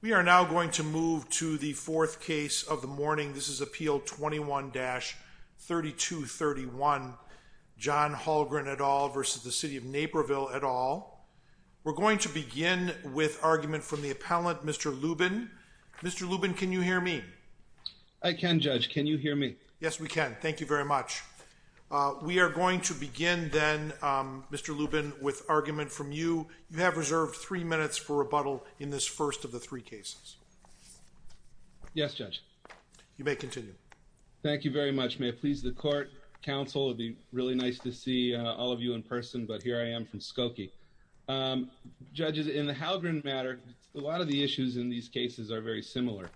We are now going to move to the fourth case of the morning. This is Appeal 21-3231 John Halgren et al. v. City of Naperville et al. We're going to begin with argument from the appellant, Mr. Lubin. Mr. Lubin, can you hear me? I can, Judge. Can you hear me? Yes, we can. Thank you very much. We are going to begin then, Mr. Lubin, with argument from you. You have reserved three minutes for rebuttal in this first of the three cases. Yes, Judge. You may continue. Thank you very much. May it please the Court, Counsel, it would be really nice to see all of you in person, but here I am from Skokie. Judges, in the Halgren matter, a lot of the issues in these cases are very similar,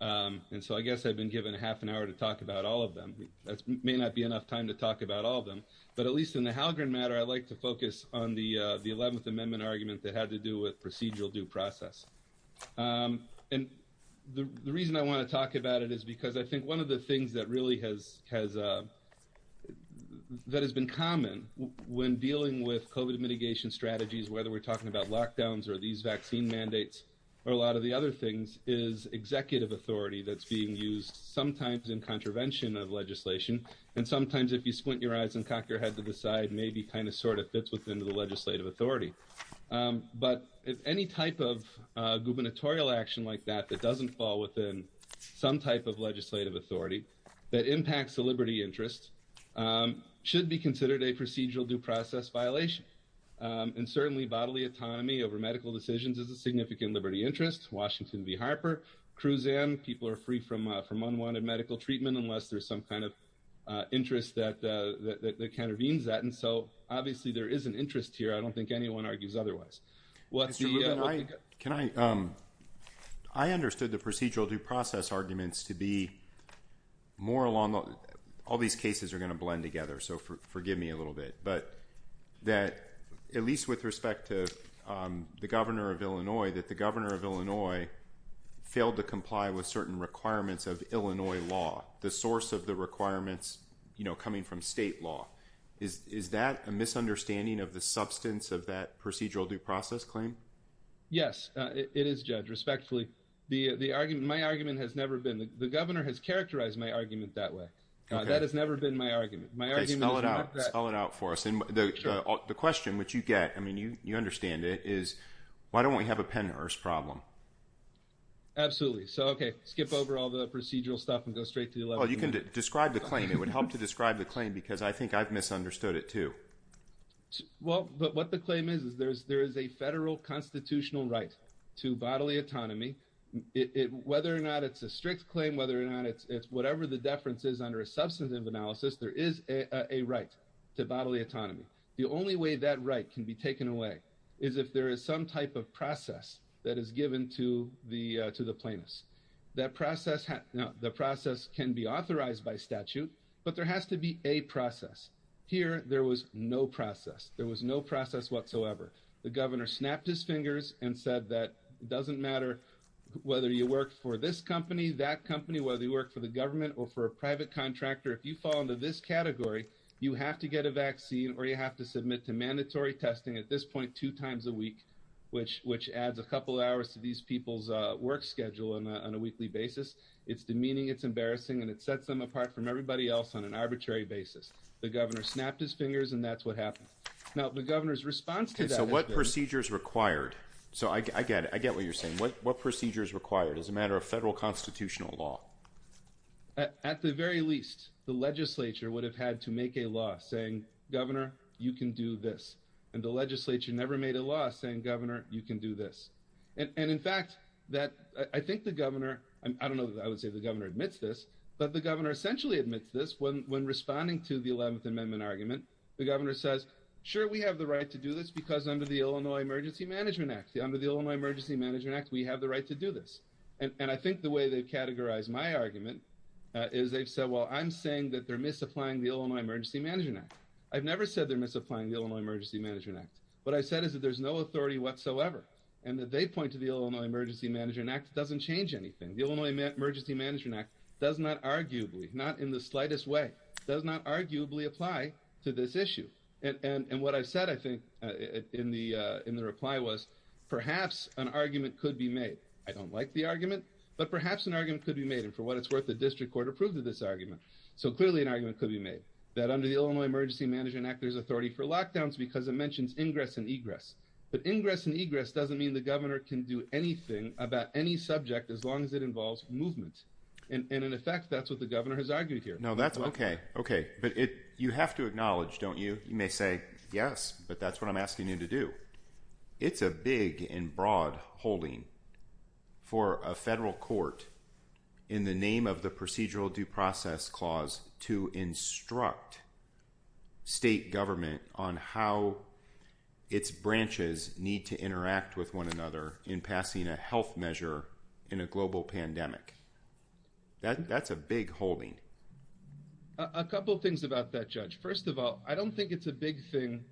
and so I guess I've been given a half an hour to talk about all of them. That may not be enough time to talk about all of them, but at least in the Halgren matter, I like to focus on the 11th Amendment argument that had to do with procedural due process. And the reason I want to talk about it is because I think one of the things that really has been common when dealing with COVID mitigation strategies, whether we're talking about lockdowns or these vaccine mandates or a lot of the other things, is executive authority that's being used sometimes in contravention of legislation, and sometimes if you squint your eyes and cock your head to the side, maybe kind of sort of fits within the legislative authority. But any type of gubernatorial action like that that doesn't fall within some type of legislative authority that impacts the liberty interest should be considered a procedural due process violation. And certainly bodily autonomy over medical decisions is a significant liberty interest. Washington v. Harper, Cruzan, people are free from unwanted medical treatment unless there's some kind of interest that countervenes that. And so obviously there is an interest here. I don't think anyone argues otherwise. Mr. Rubin, I understood the procedural due process arguments to be more along the – all these cases are going to blend together, so forgive me a little bit – but that at least with respect to the governor of Illinois, that the governor of Illinois failed to comply with certain requirements of Illinois law, the source of the requirements coming from state law. Is that a misunderstanding of the substance of that procedural due process claim? Yes, it is, Judge, respectfully. My argument has never been – the governor has characterized my argument that way. That has never been my argument. Okay, spell it out. Spell it out for us. And the question which you get, I mean, you understand it, is why don't we have a Pennhurst problem? Absolutely. So, okay, skip over all the procedural stuff and go straight to the – Well, you can describe the claim. It would help to describe the claim because I think I've misunderstood it too. Well, but what the claim is is there is a federal constitutional right to bodily autonomy. Whether or not it's a strict claim, whether or not it's – whatever the deference is under a substantive analysis, there is a right to bodily autonomy. The only way that right can be taken away is if there is some type of process that is given to the plaintiffs. That process – now, the process can be authorized by statute, but there has to be a process. Here there was no process. There was no process whatsoever. The governor snapped his fingers and said that it doesn't matter whether you work for this company, that company, whether you work for the government or for a private contractor, if you fall into this category, you have to get a vaccine or you have to submit to mandatory testing at this point two times a week, which adds a couple hours to these people's work schedule on a weekly basis. It's demeaning, it's embarrassing, and it sets them apart from everybody else on an arbitrary basis. The governor snapped his fingers, and that's what happened. Now, the governor's response to that is – Okay, so what procedures required – so I get what you're saying. What procedures required as a matter of federal constitutional law? At the very least, the legislature would have had to make a law saying, Governor, you can do this. And the legislature never made a law saying, Governor, you can do this. And, in fact, I think the governor – I don't know that I would say the governor admits this, but the governor essentially admits this when responding to the 11th Amendment argument. The governor says, sure, we have the right to do this because under the Illinois Emergency Management Act, under the Illinois Emergency Management Act, we have the right to do this. And I think the way they've categorized my argument is they've said, well, I'm saying that they're misapplying the Illinois Emergency Management Act. I've never said they're misapplying the Illinois Emergency Management Act. What I've said is that there's no authority whatsoever, and that they point to the Illinois Emergency Management Act doesn't change anything. The Illinois Emergency Management Act does not arguably – not in the slightest way – does not arguably apply to this issue. And what I've said, I think, in the reply was perhaps an argument could be made. I don't like the argument, but perhaps an argument could be made, and for what it's worth, the district court approved of this argument. So clearly an argument could be made that under the Illinois Emergency Management Act, there's authority for lockdowns because it mentions ingress and egress. But ingress and egress doesn't mean the governor can do anything about any subject as long as it involves movement. And in effect, that's what the governor has argued here. Now, that's okay. Okay. But you have to acknowledge, don't you? You may say, yes, but that's what I'm asking you to do. It's a big and broad holding for a federal court in the name of the Procedural Due Process Clause to instruct state government on how its branches need to interact with one another in passing a health measure in a global pandemic. That's a big holding. A couple of things about that, Judge. First of all, I don't think it's a big thing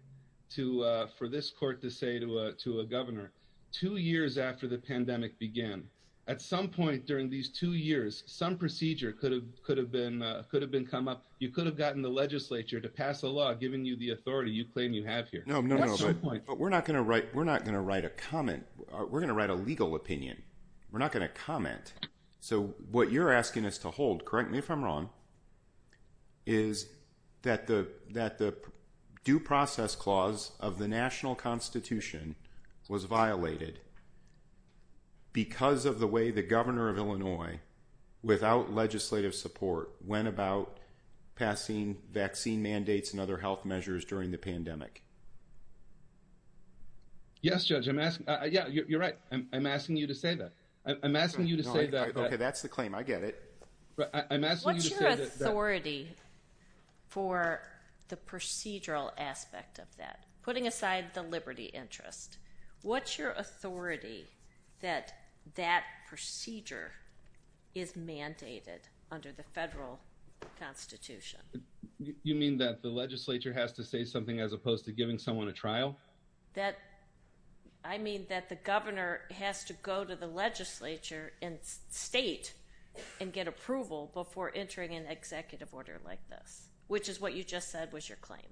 for this court to say to a governor, two years after the pandemic began, at some point during these two years, some procedure could have been come up. You could have gotten the legislature to pass a law giving you the authority you claim you have here. No, no, no. But we're not going to write a comment. We're going to write a legal opinion. We're not going to comment. So what you're asking us to hold, correct me if I'm wrong, is that the Due Process Clause of the national constitution was violated because of the way the governor of Illinois, without legislative support, went about passing vaccine mandates and other health measures during the pandemic. Yes, Judge. I'm asking you to say that. I'm asking you to say that. Okay, that's the claim. I get it. What's your authority for the procedural aspect of that? Putting aside the liberty interest, what's your authority that that procedure is mandated under the federal constitution? You mean that the legislature has to say something as opposed to giving someone a trial? I mean that the governor has to go to the legislature and state and get approval before entering an executive order like this, which is what you just said was your claim.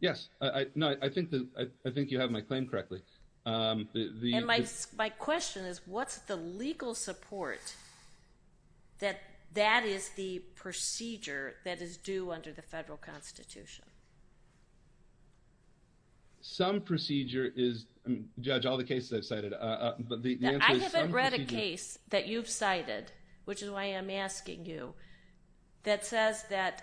Yes. No, I think you have my claim correctly. And my question is, what's the legal support that that is the procedure that is due under the federal constitution? Some procedure is, Judge, all the cases I've cited. I haven't read a case that you've cited, which is why I'm asking you, that says that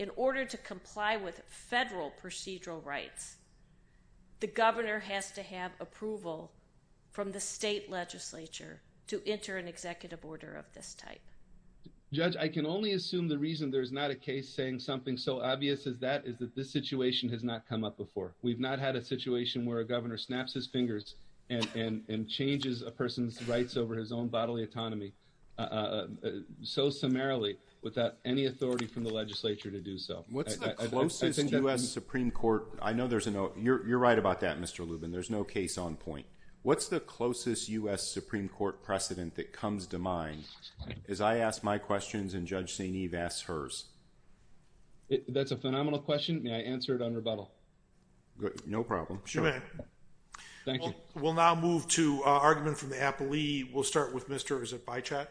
in order to comply with federal procedural rights, the governor has to have approval from the state legislature to enter an executive order of this type. Judge, I can only assume the reason there's not a case saying something so obvious as that is that this situation has not come up before. We've not had a situation where a governor snaps his fingers and changes a person's rights over his own bodily autonomy so summarily without any authority from the legislature to do so. What's the closest U.S. Supreme Court, I know there's no, you're right about that, Mr. Lubin, there's no case on point. What's the closest U.S. Supreme Court precedent that comes to mind as I ask my questions and Judge St. Eve asks hers? That's a phenomenal question. May I answer it on rebuttal? No problem. Thank you. We'll now move to argument from the appellee. We'll start with Mr., is it Beichat?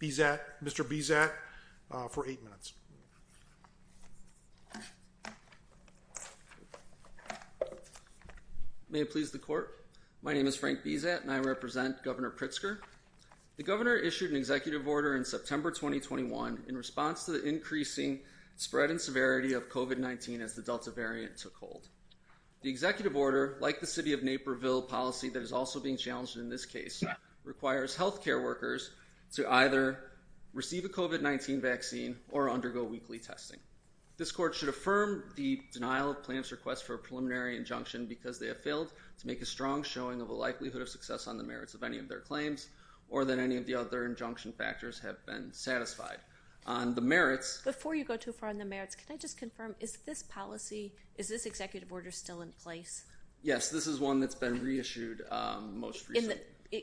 Bezat. Bezat. Mr. Bezat for eight minutes. May it please the court. My name is Frank Bezat and I represent Governor Pritzker. The governor issued an executive order in September 2021 in response to the increasing spread and severity of COVID-19 as the Delta variant took hold. The executive order, like the city of Naperville policy that is also being challenged in this case, requires healthcare workers to either receive a COVID-19 vaccine or undergo weekly testing. This court should affirm the denial of plan's request for a preliminary injunction because they have failed to make a strong showing of a likelihood of success on the merits of any of their claims or that any of the other injunction factors have been satisfied. On the merits... Before you go too far on the merits, can I just confirm, is this policy, is this executive order still in place? Yes, this is one that's been reissued most recently.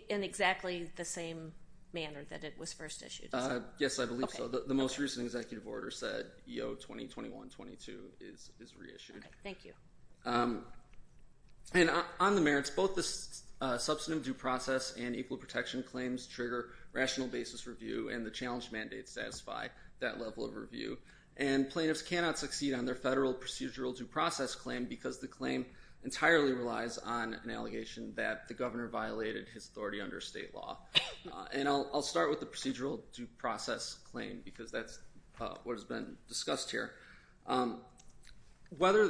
In exactly the same manner that it was first issued? Yes, I believe so. The most recent executive order said EO 2021-22 is reissued. Thank you. And on the merits, both the substantive due process and equal protection claims trigger rational basis review and the challenge mandate satisfy that level of review. And plaintiffs cannot succeed on their federal procedural due process claim because the claim entirely relies on an allegation that the governor violated his authority under state law. And I'll start with the procedural due process claim because that's what has been discussed here. Whether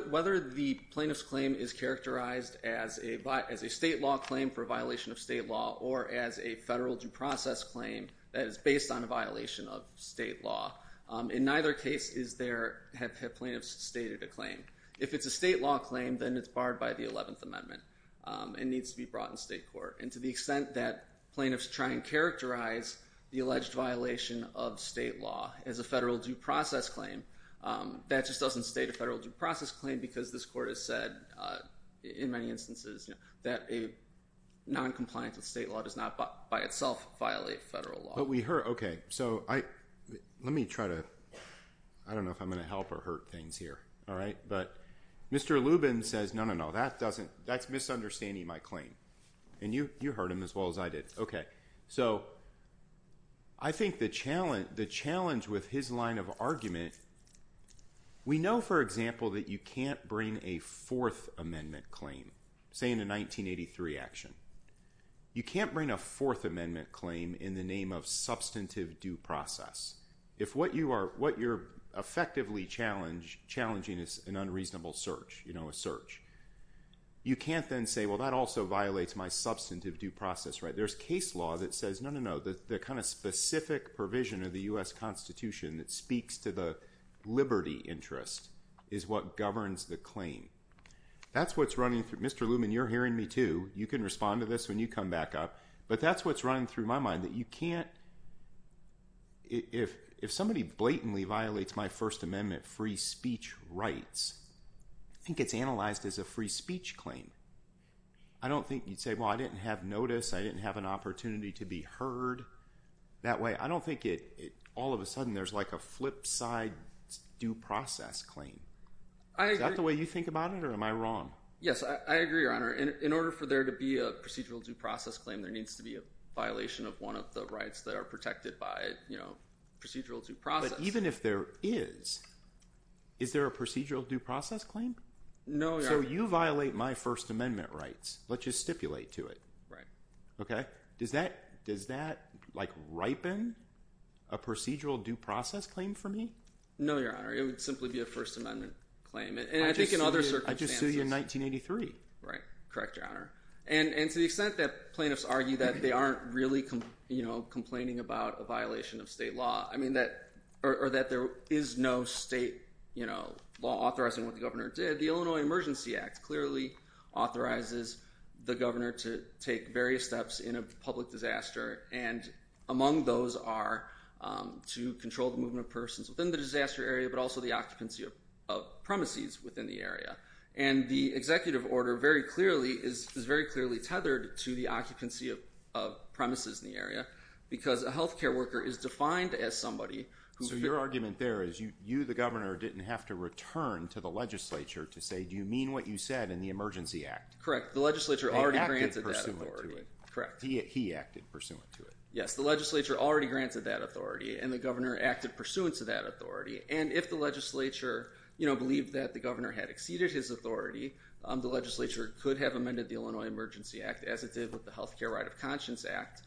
the plaintiff's claim is characterized as a state law claim for violation of state law or as a federal due process claim that is based on a violation of state law, in neither case have plaintiffs stated a claim. If it's a state law claim, then it's barred by the 11th Amendment and needs to be brought in state court. And to the extent that plaintiffs try and characterize the alleged violation of state law as a federal due process claim, that just doesn't state a federal due process claim because this court has said, in many instances, that a noncompliance with state law does not by itself violate federal law. But we heard, okay, so let me try to... I don't know if I'm going to help or hurt things here, all right? But Mr. Lubin says, no, no, no, that's misunderstanding my claim. And you heard him as well as I did. Okay, so I think the challenge with his line of argument is that we know, for example, that you can't bring a Fourth Amendment claim, say in a 1983 action. You can't bring a Fourth Amendment claim in the name of substantive due process. If what you're effectively challenging is an unreasonable search, you know, a search, you can't then say, well, that also violates my substantive due process, right? There's case law that says, no, no, no, the kind of specific provision of the U.S. Constitution that speaks to the liberty interest is what governs the claim. That's what's running through... Mr. Lubin, you're hearing me too. You can respond to this when you come back up. But that's what's running through my mind, that you can't... If somebody blatantly violates my First Amendment free speech rights, I think it's analyzed as a free speech claim. I don't think you'd say, well, I didn't have notice, I didn't have an opportunity to be heard that way. I don't think all of a sudden there's like a flip side due process claim. Is that the way you think about it, or am I wrong? Yes, I agree, Your Honor. In order for there to be a procedural due process claim, there needs to be a violation of one of the rights that are protected by procedural due process. But even if there is, is there a procedural due process claim? No, Your Honor. So you violate my First Amendment rights. Let's just stipulate to it. Right. Does that ripen a procedural due process claim for me? No, Your Honor. It would simply be a First Amendment claim. And I think in other circumstances... I just sued you in 1983. Right. Correct, Your Honor. And to the extent that plaintiffs argue that they aren't really complaining about a violation of state law, or that there is no state law authorizing what the governor did, the Illinois Emergency Act clearly authorizes the governor to take various steps in a public disaster, and among those are to control the movement of persons within the disaster area, but also the occupancy of premises within the area. And the executive order is very clearly tethered to the occupancy of premises in the area because a health care worker is defined as somebody who... So your argument there is you, the governor, didn't have to return to the legislature to say, do you mean what you said in the Emergency Act? Correct. The legislature already granted that authority. He acted pursuant to it. Correct. He acted pursuant to it. Yes, the legislature already granted that authority, and the governor acted pursuant to that authority. And if the legislature believed that the governor had exceeded his authority, the legislature could have amended the Illinois Emergency Act as it did with the Health Care Right of Conscience Act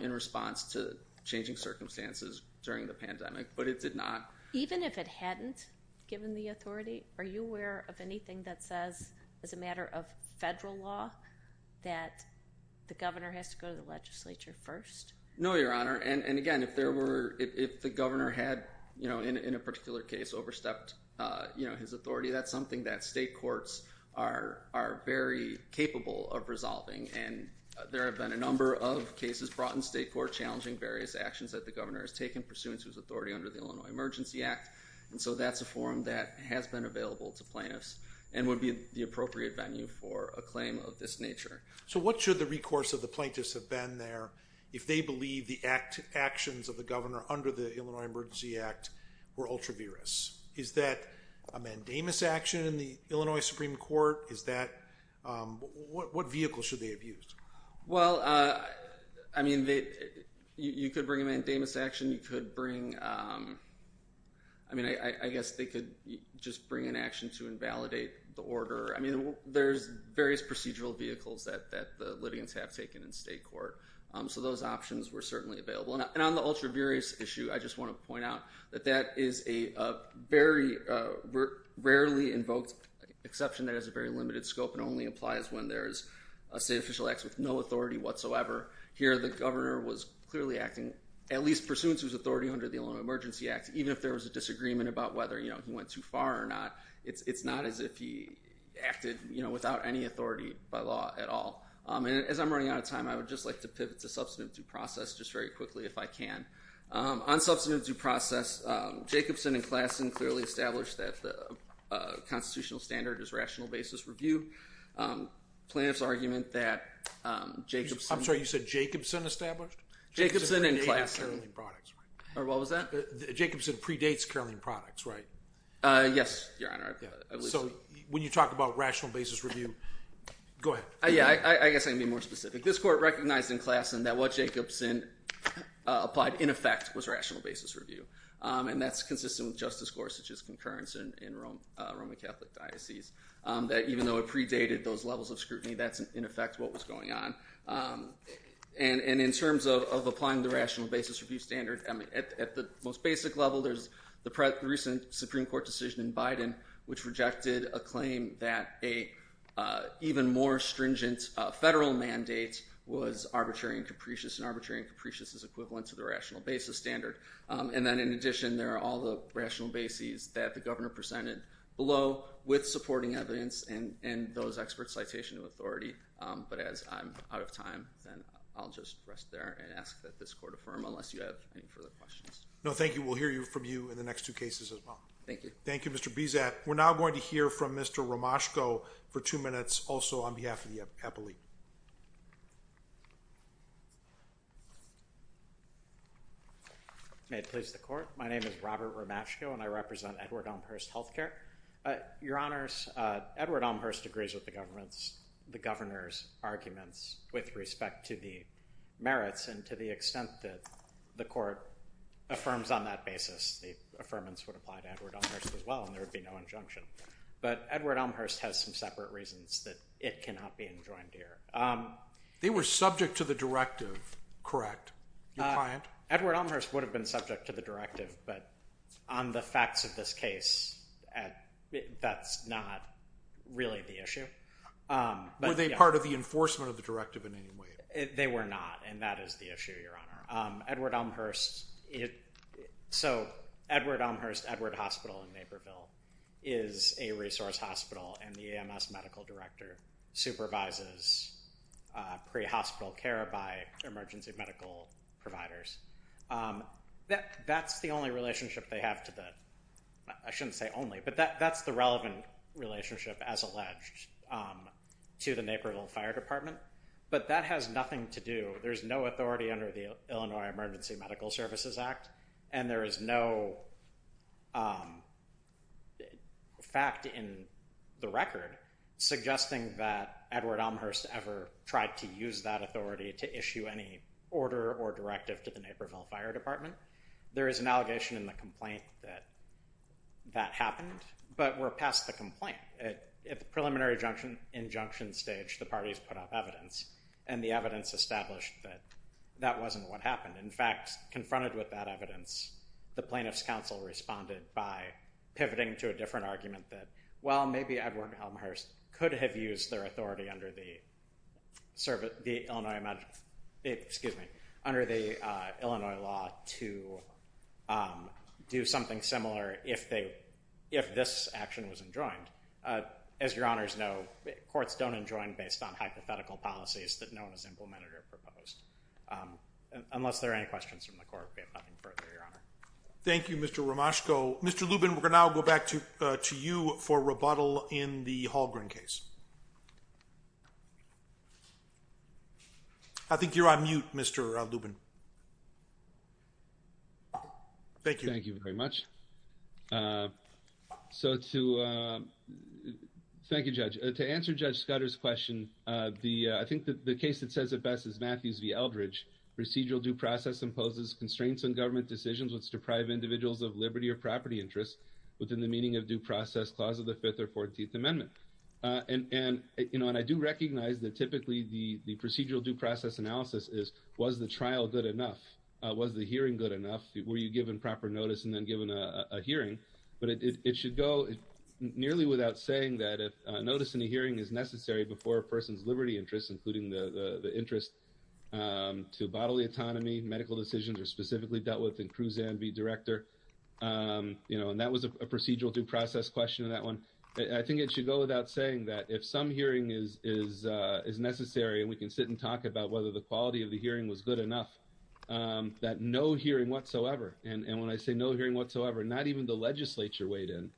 in response to changing circumstances during the pandemic, but it did not. Even if it hadn't given the authority, are you aware of anything that says, as a matter of federal law, that the governor has to go to the legislature first? No, Your Honor. And again, if the governor had, in a particular case, overstepped his authority, that's something that state courts are very capable of resolving. And there have been a number of cases brought in state court challenging various actions that the governor has taken pursuant to his authority under the Illinois Emergency Act. And so that's a forum that has been available to plaintiffs and would be the appropriate venue for a claim of this nature. So what should the recourse of the plaintiffs have been there if they believe the actions of the governor under the Illinois Emergency Act were ultra-virous? Is that a mandamus action in the Illinois Supreme Court? What vehicle should they have used? Well, I mean, you could bring a mandamus action. You could bring, I mean, I guess they could just bring an action to invalidate the order. I mean, there's various procedural vehicles that the litigants have taken in state court. So those options were certainly available. And on the ultra-virous issue, I just want to point out that that is a very rarely invoked exception that has a very limited scope and only applies when there is a state official act with no authority whatsoever. Here, the governor was clearly acting, at least pursuant to his authority under the Illinois Emergency Act, even if there was a disagreement about whether he went too far or not, it's not as if he acted without any authority by law at all. And as I'm running out of time, I would just like to pivot to substantive due process just very quickly if I can. On substantive due process, Jacobson and Klassen clearly established that the constitutional standard is rational basis review. Plaintiff's argument that Jacobson... I'm sorry, you said Jacobson established? Jacobson and Klassen. Or what was that? Jacobson predates Caroline Products, right? Yes, Your Honor. So when you talk about rational basis review... Go ahead. I guess I can be more specific. This court recognized in Klassen that what Jacobson applied in effect was rational basis review, and that's consistent with Justice Gorsuch's concurrence in Roman Catholic Diocese, that even though it predated those levels of scrutiny, that's in effect what was going on. And in terms of applying the rational basis review standard, at the most basic level, there's the recent Supreme Court decision in Biden which rejected a claim that an even more stringent federal mandate was arbitrary and capricious, and arbitrary and capricious is equivalent to the rational basis standard. And then in addition, there are all the rational bases that the governor presented below with supporting evidence and those experts' citation of authority. But as I'm out of time, then I'll just rest there and ask that this court affirm unless you have any further questions. No, thank you. We'll hear from you in the next two cases as well. Thank you. Thank you, Mr. Bizat. We're now going to hear from Mr. Romashko for two minutes, also on behalf of the appellee. May it please the court. My name is Robert Romashko, and I represent Edward Elmhurst Healthcare. Your Honors, Edward Elmhurst agrees with the governor's arguments with respect to the merits and to the extent that the court affirms on that basis, the affirmance would apply to Edward Elmhurst as well and there would be no injunction. But Edward Elmhurst has some separate reasons that it cannot be enjoined here. They were subject to the directive, correct? Your client? Edward Elmhurst would have been subject to the directive, but on the facts of this case, that's not really the issue. Were they part of the enforcement of the directive in any way? They were not, and that is the issue, Your Honor. Edward Elmhurst, so Edward Elmhurst, Edward Hospital in Naperville is a resource hospital, and the EMS medical director supervises pre-hospital care by emergency medical providers. That's the only relationship they have to the, I shouldn't say only, but that's the relevant relationship as alleged to the Naperville Fire Department, but that has nothing to do, there's no authority under the Illinois Emergency Medical Services Act and there is no fact in the record to issue any order or directive to the Naperville Fire Department. There is an allegation in the complaint that that happened, but we're past the complaint. At the preliminary injunction stage, the parties put up evidence, and the evidence established that that wasn't what happened. In fact, confronted with that evidence, the plaintiff's counsel responded by pivoting to a different argument that, well, maybe Edward Elmhurst could have used their authority under the Illinois law to do something similar if this action was enjoined. As your honors know, courts don't enjoin based on hypothetical policies that no one has implemented or proposed. Unless there are any questions from the court, we have nothing further, your honor. Thank you, Mr. Romashko. Mr. Lubin, we're going to now go back to you for rebuttal in the Halgren case. I think you're on mute, Mr. Lubin. Thank you. Thank you very much. Thank you, Judge. To answer Judge Scudder's question, I think the case that says it best is Matthews v. Eldridge. Procedural due process imposes constraints on government decisions which deprive individuals of liberty or property interests within the meaning of due process clause of the Fifth or Fourteenth Amendment. And I do recognize that typically the procedural due process analysis is, was the trial good enough? Was the hearing good enough? Were you given proper notice and then given a hearing? But it should go nearly without saying that notice and a hearing is necessary before a person's liberty interests, including the interest to bodily autonomy, medical decisions, or specifically dealt with in Cruz-Anne v. Director. You know, and that was a procedural due process question in that one. I think it should go without saying that if some hearing is necessary and we can sit and talk about whether the quality of the hearing was good enough, that no hearing whatsoever. And when I say no hearing whatsoever, not even the legislature weighed in.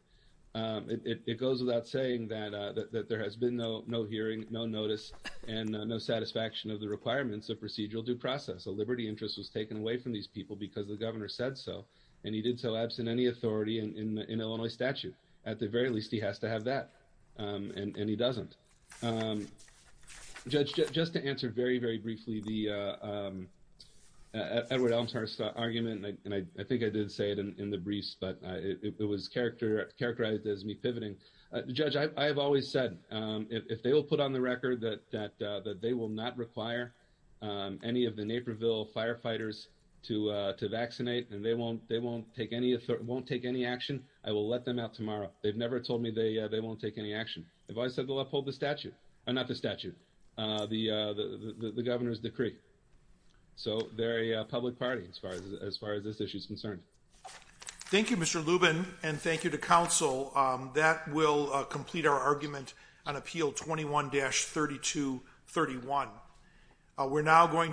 It goes without saying that there has been no hearing, no notice, and no satisfaction of the requirements of procedural due process. A liberty interest was taken away from these people because the governor said so, and he did so absent any authority in Illinois statute. At the very least, he has to have that, and he doesn't. Judge, just to answer very, very briefly the Edward Elmshurst argument, and I think I did say it in the briefs, but it was characterized as me pivoting. Judge, I have always said if they will put on the record that they will not require any of the Naperville firefighters to vaccinate and they won't take any action, I will let them out tomorrow. They've never told me they won't take any action. I've always said they'll uphold the statute. Not the statute, the governor's decree. So they're a public party as far as this issue is concerned. Thank you, Mr. Lubin, and thank you to counsel. That will complete our argument on Appeal 21-3231.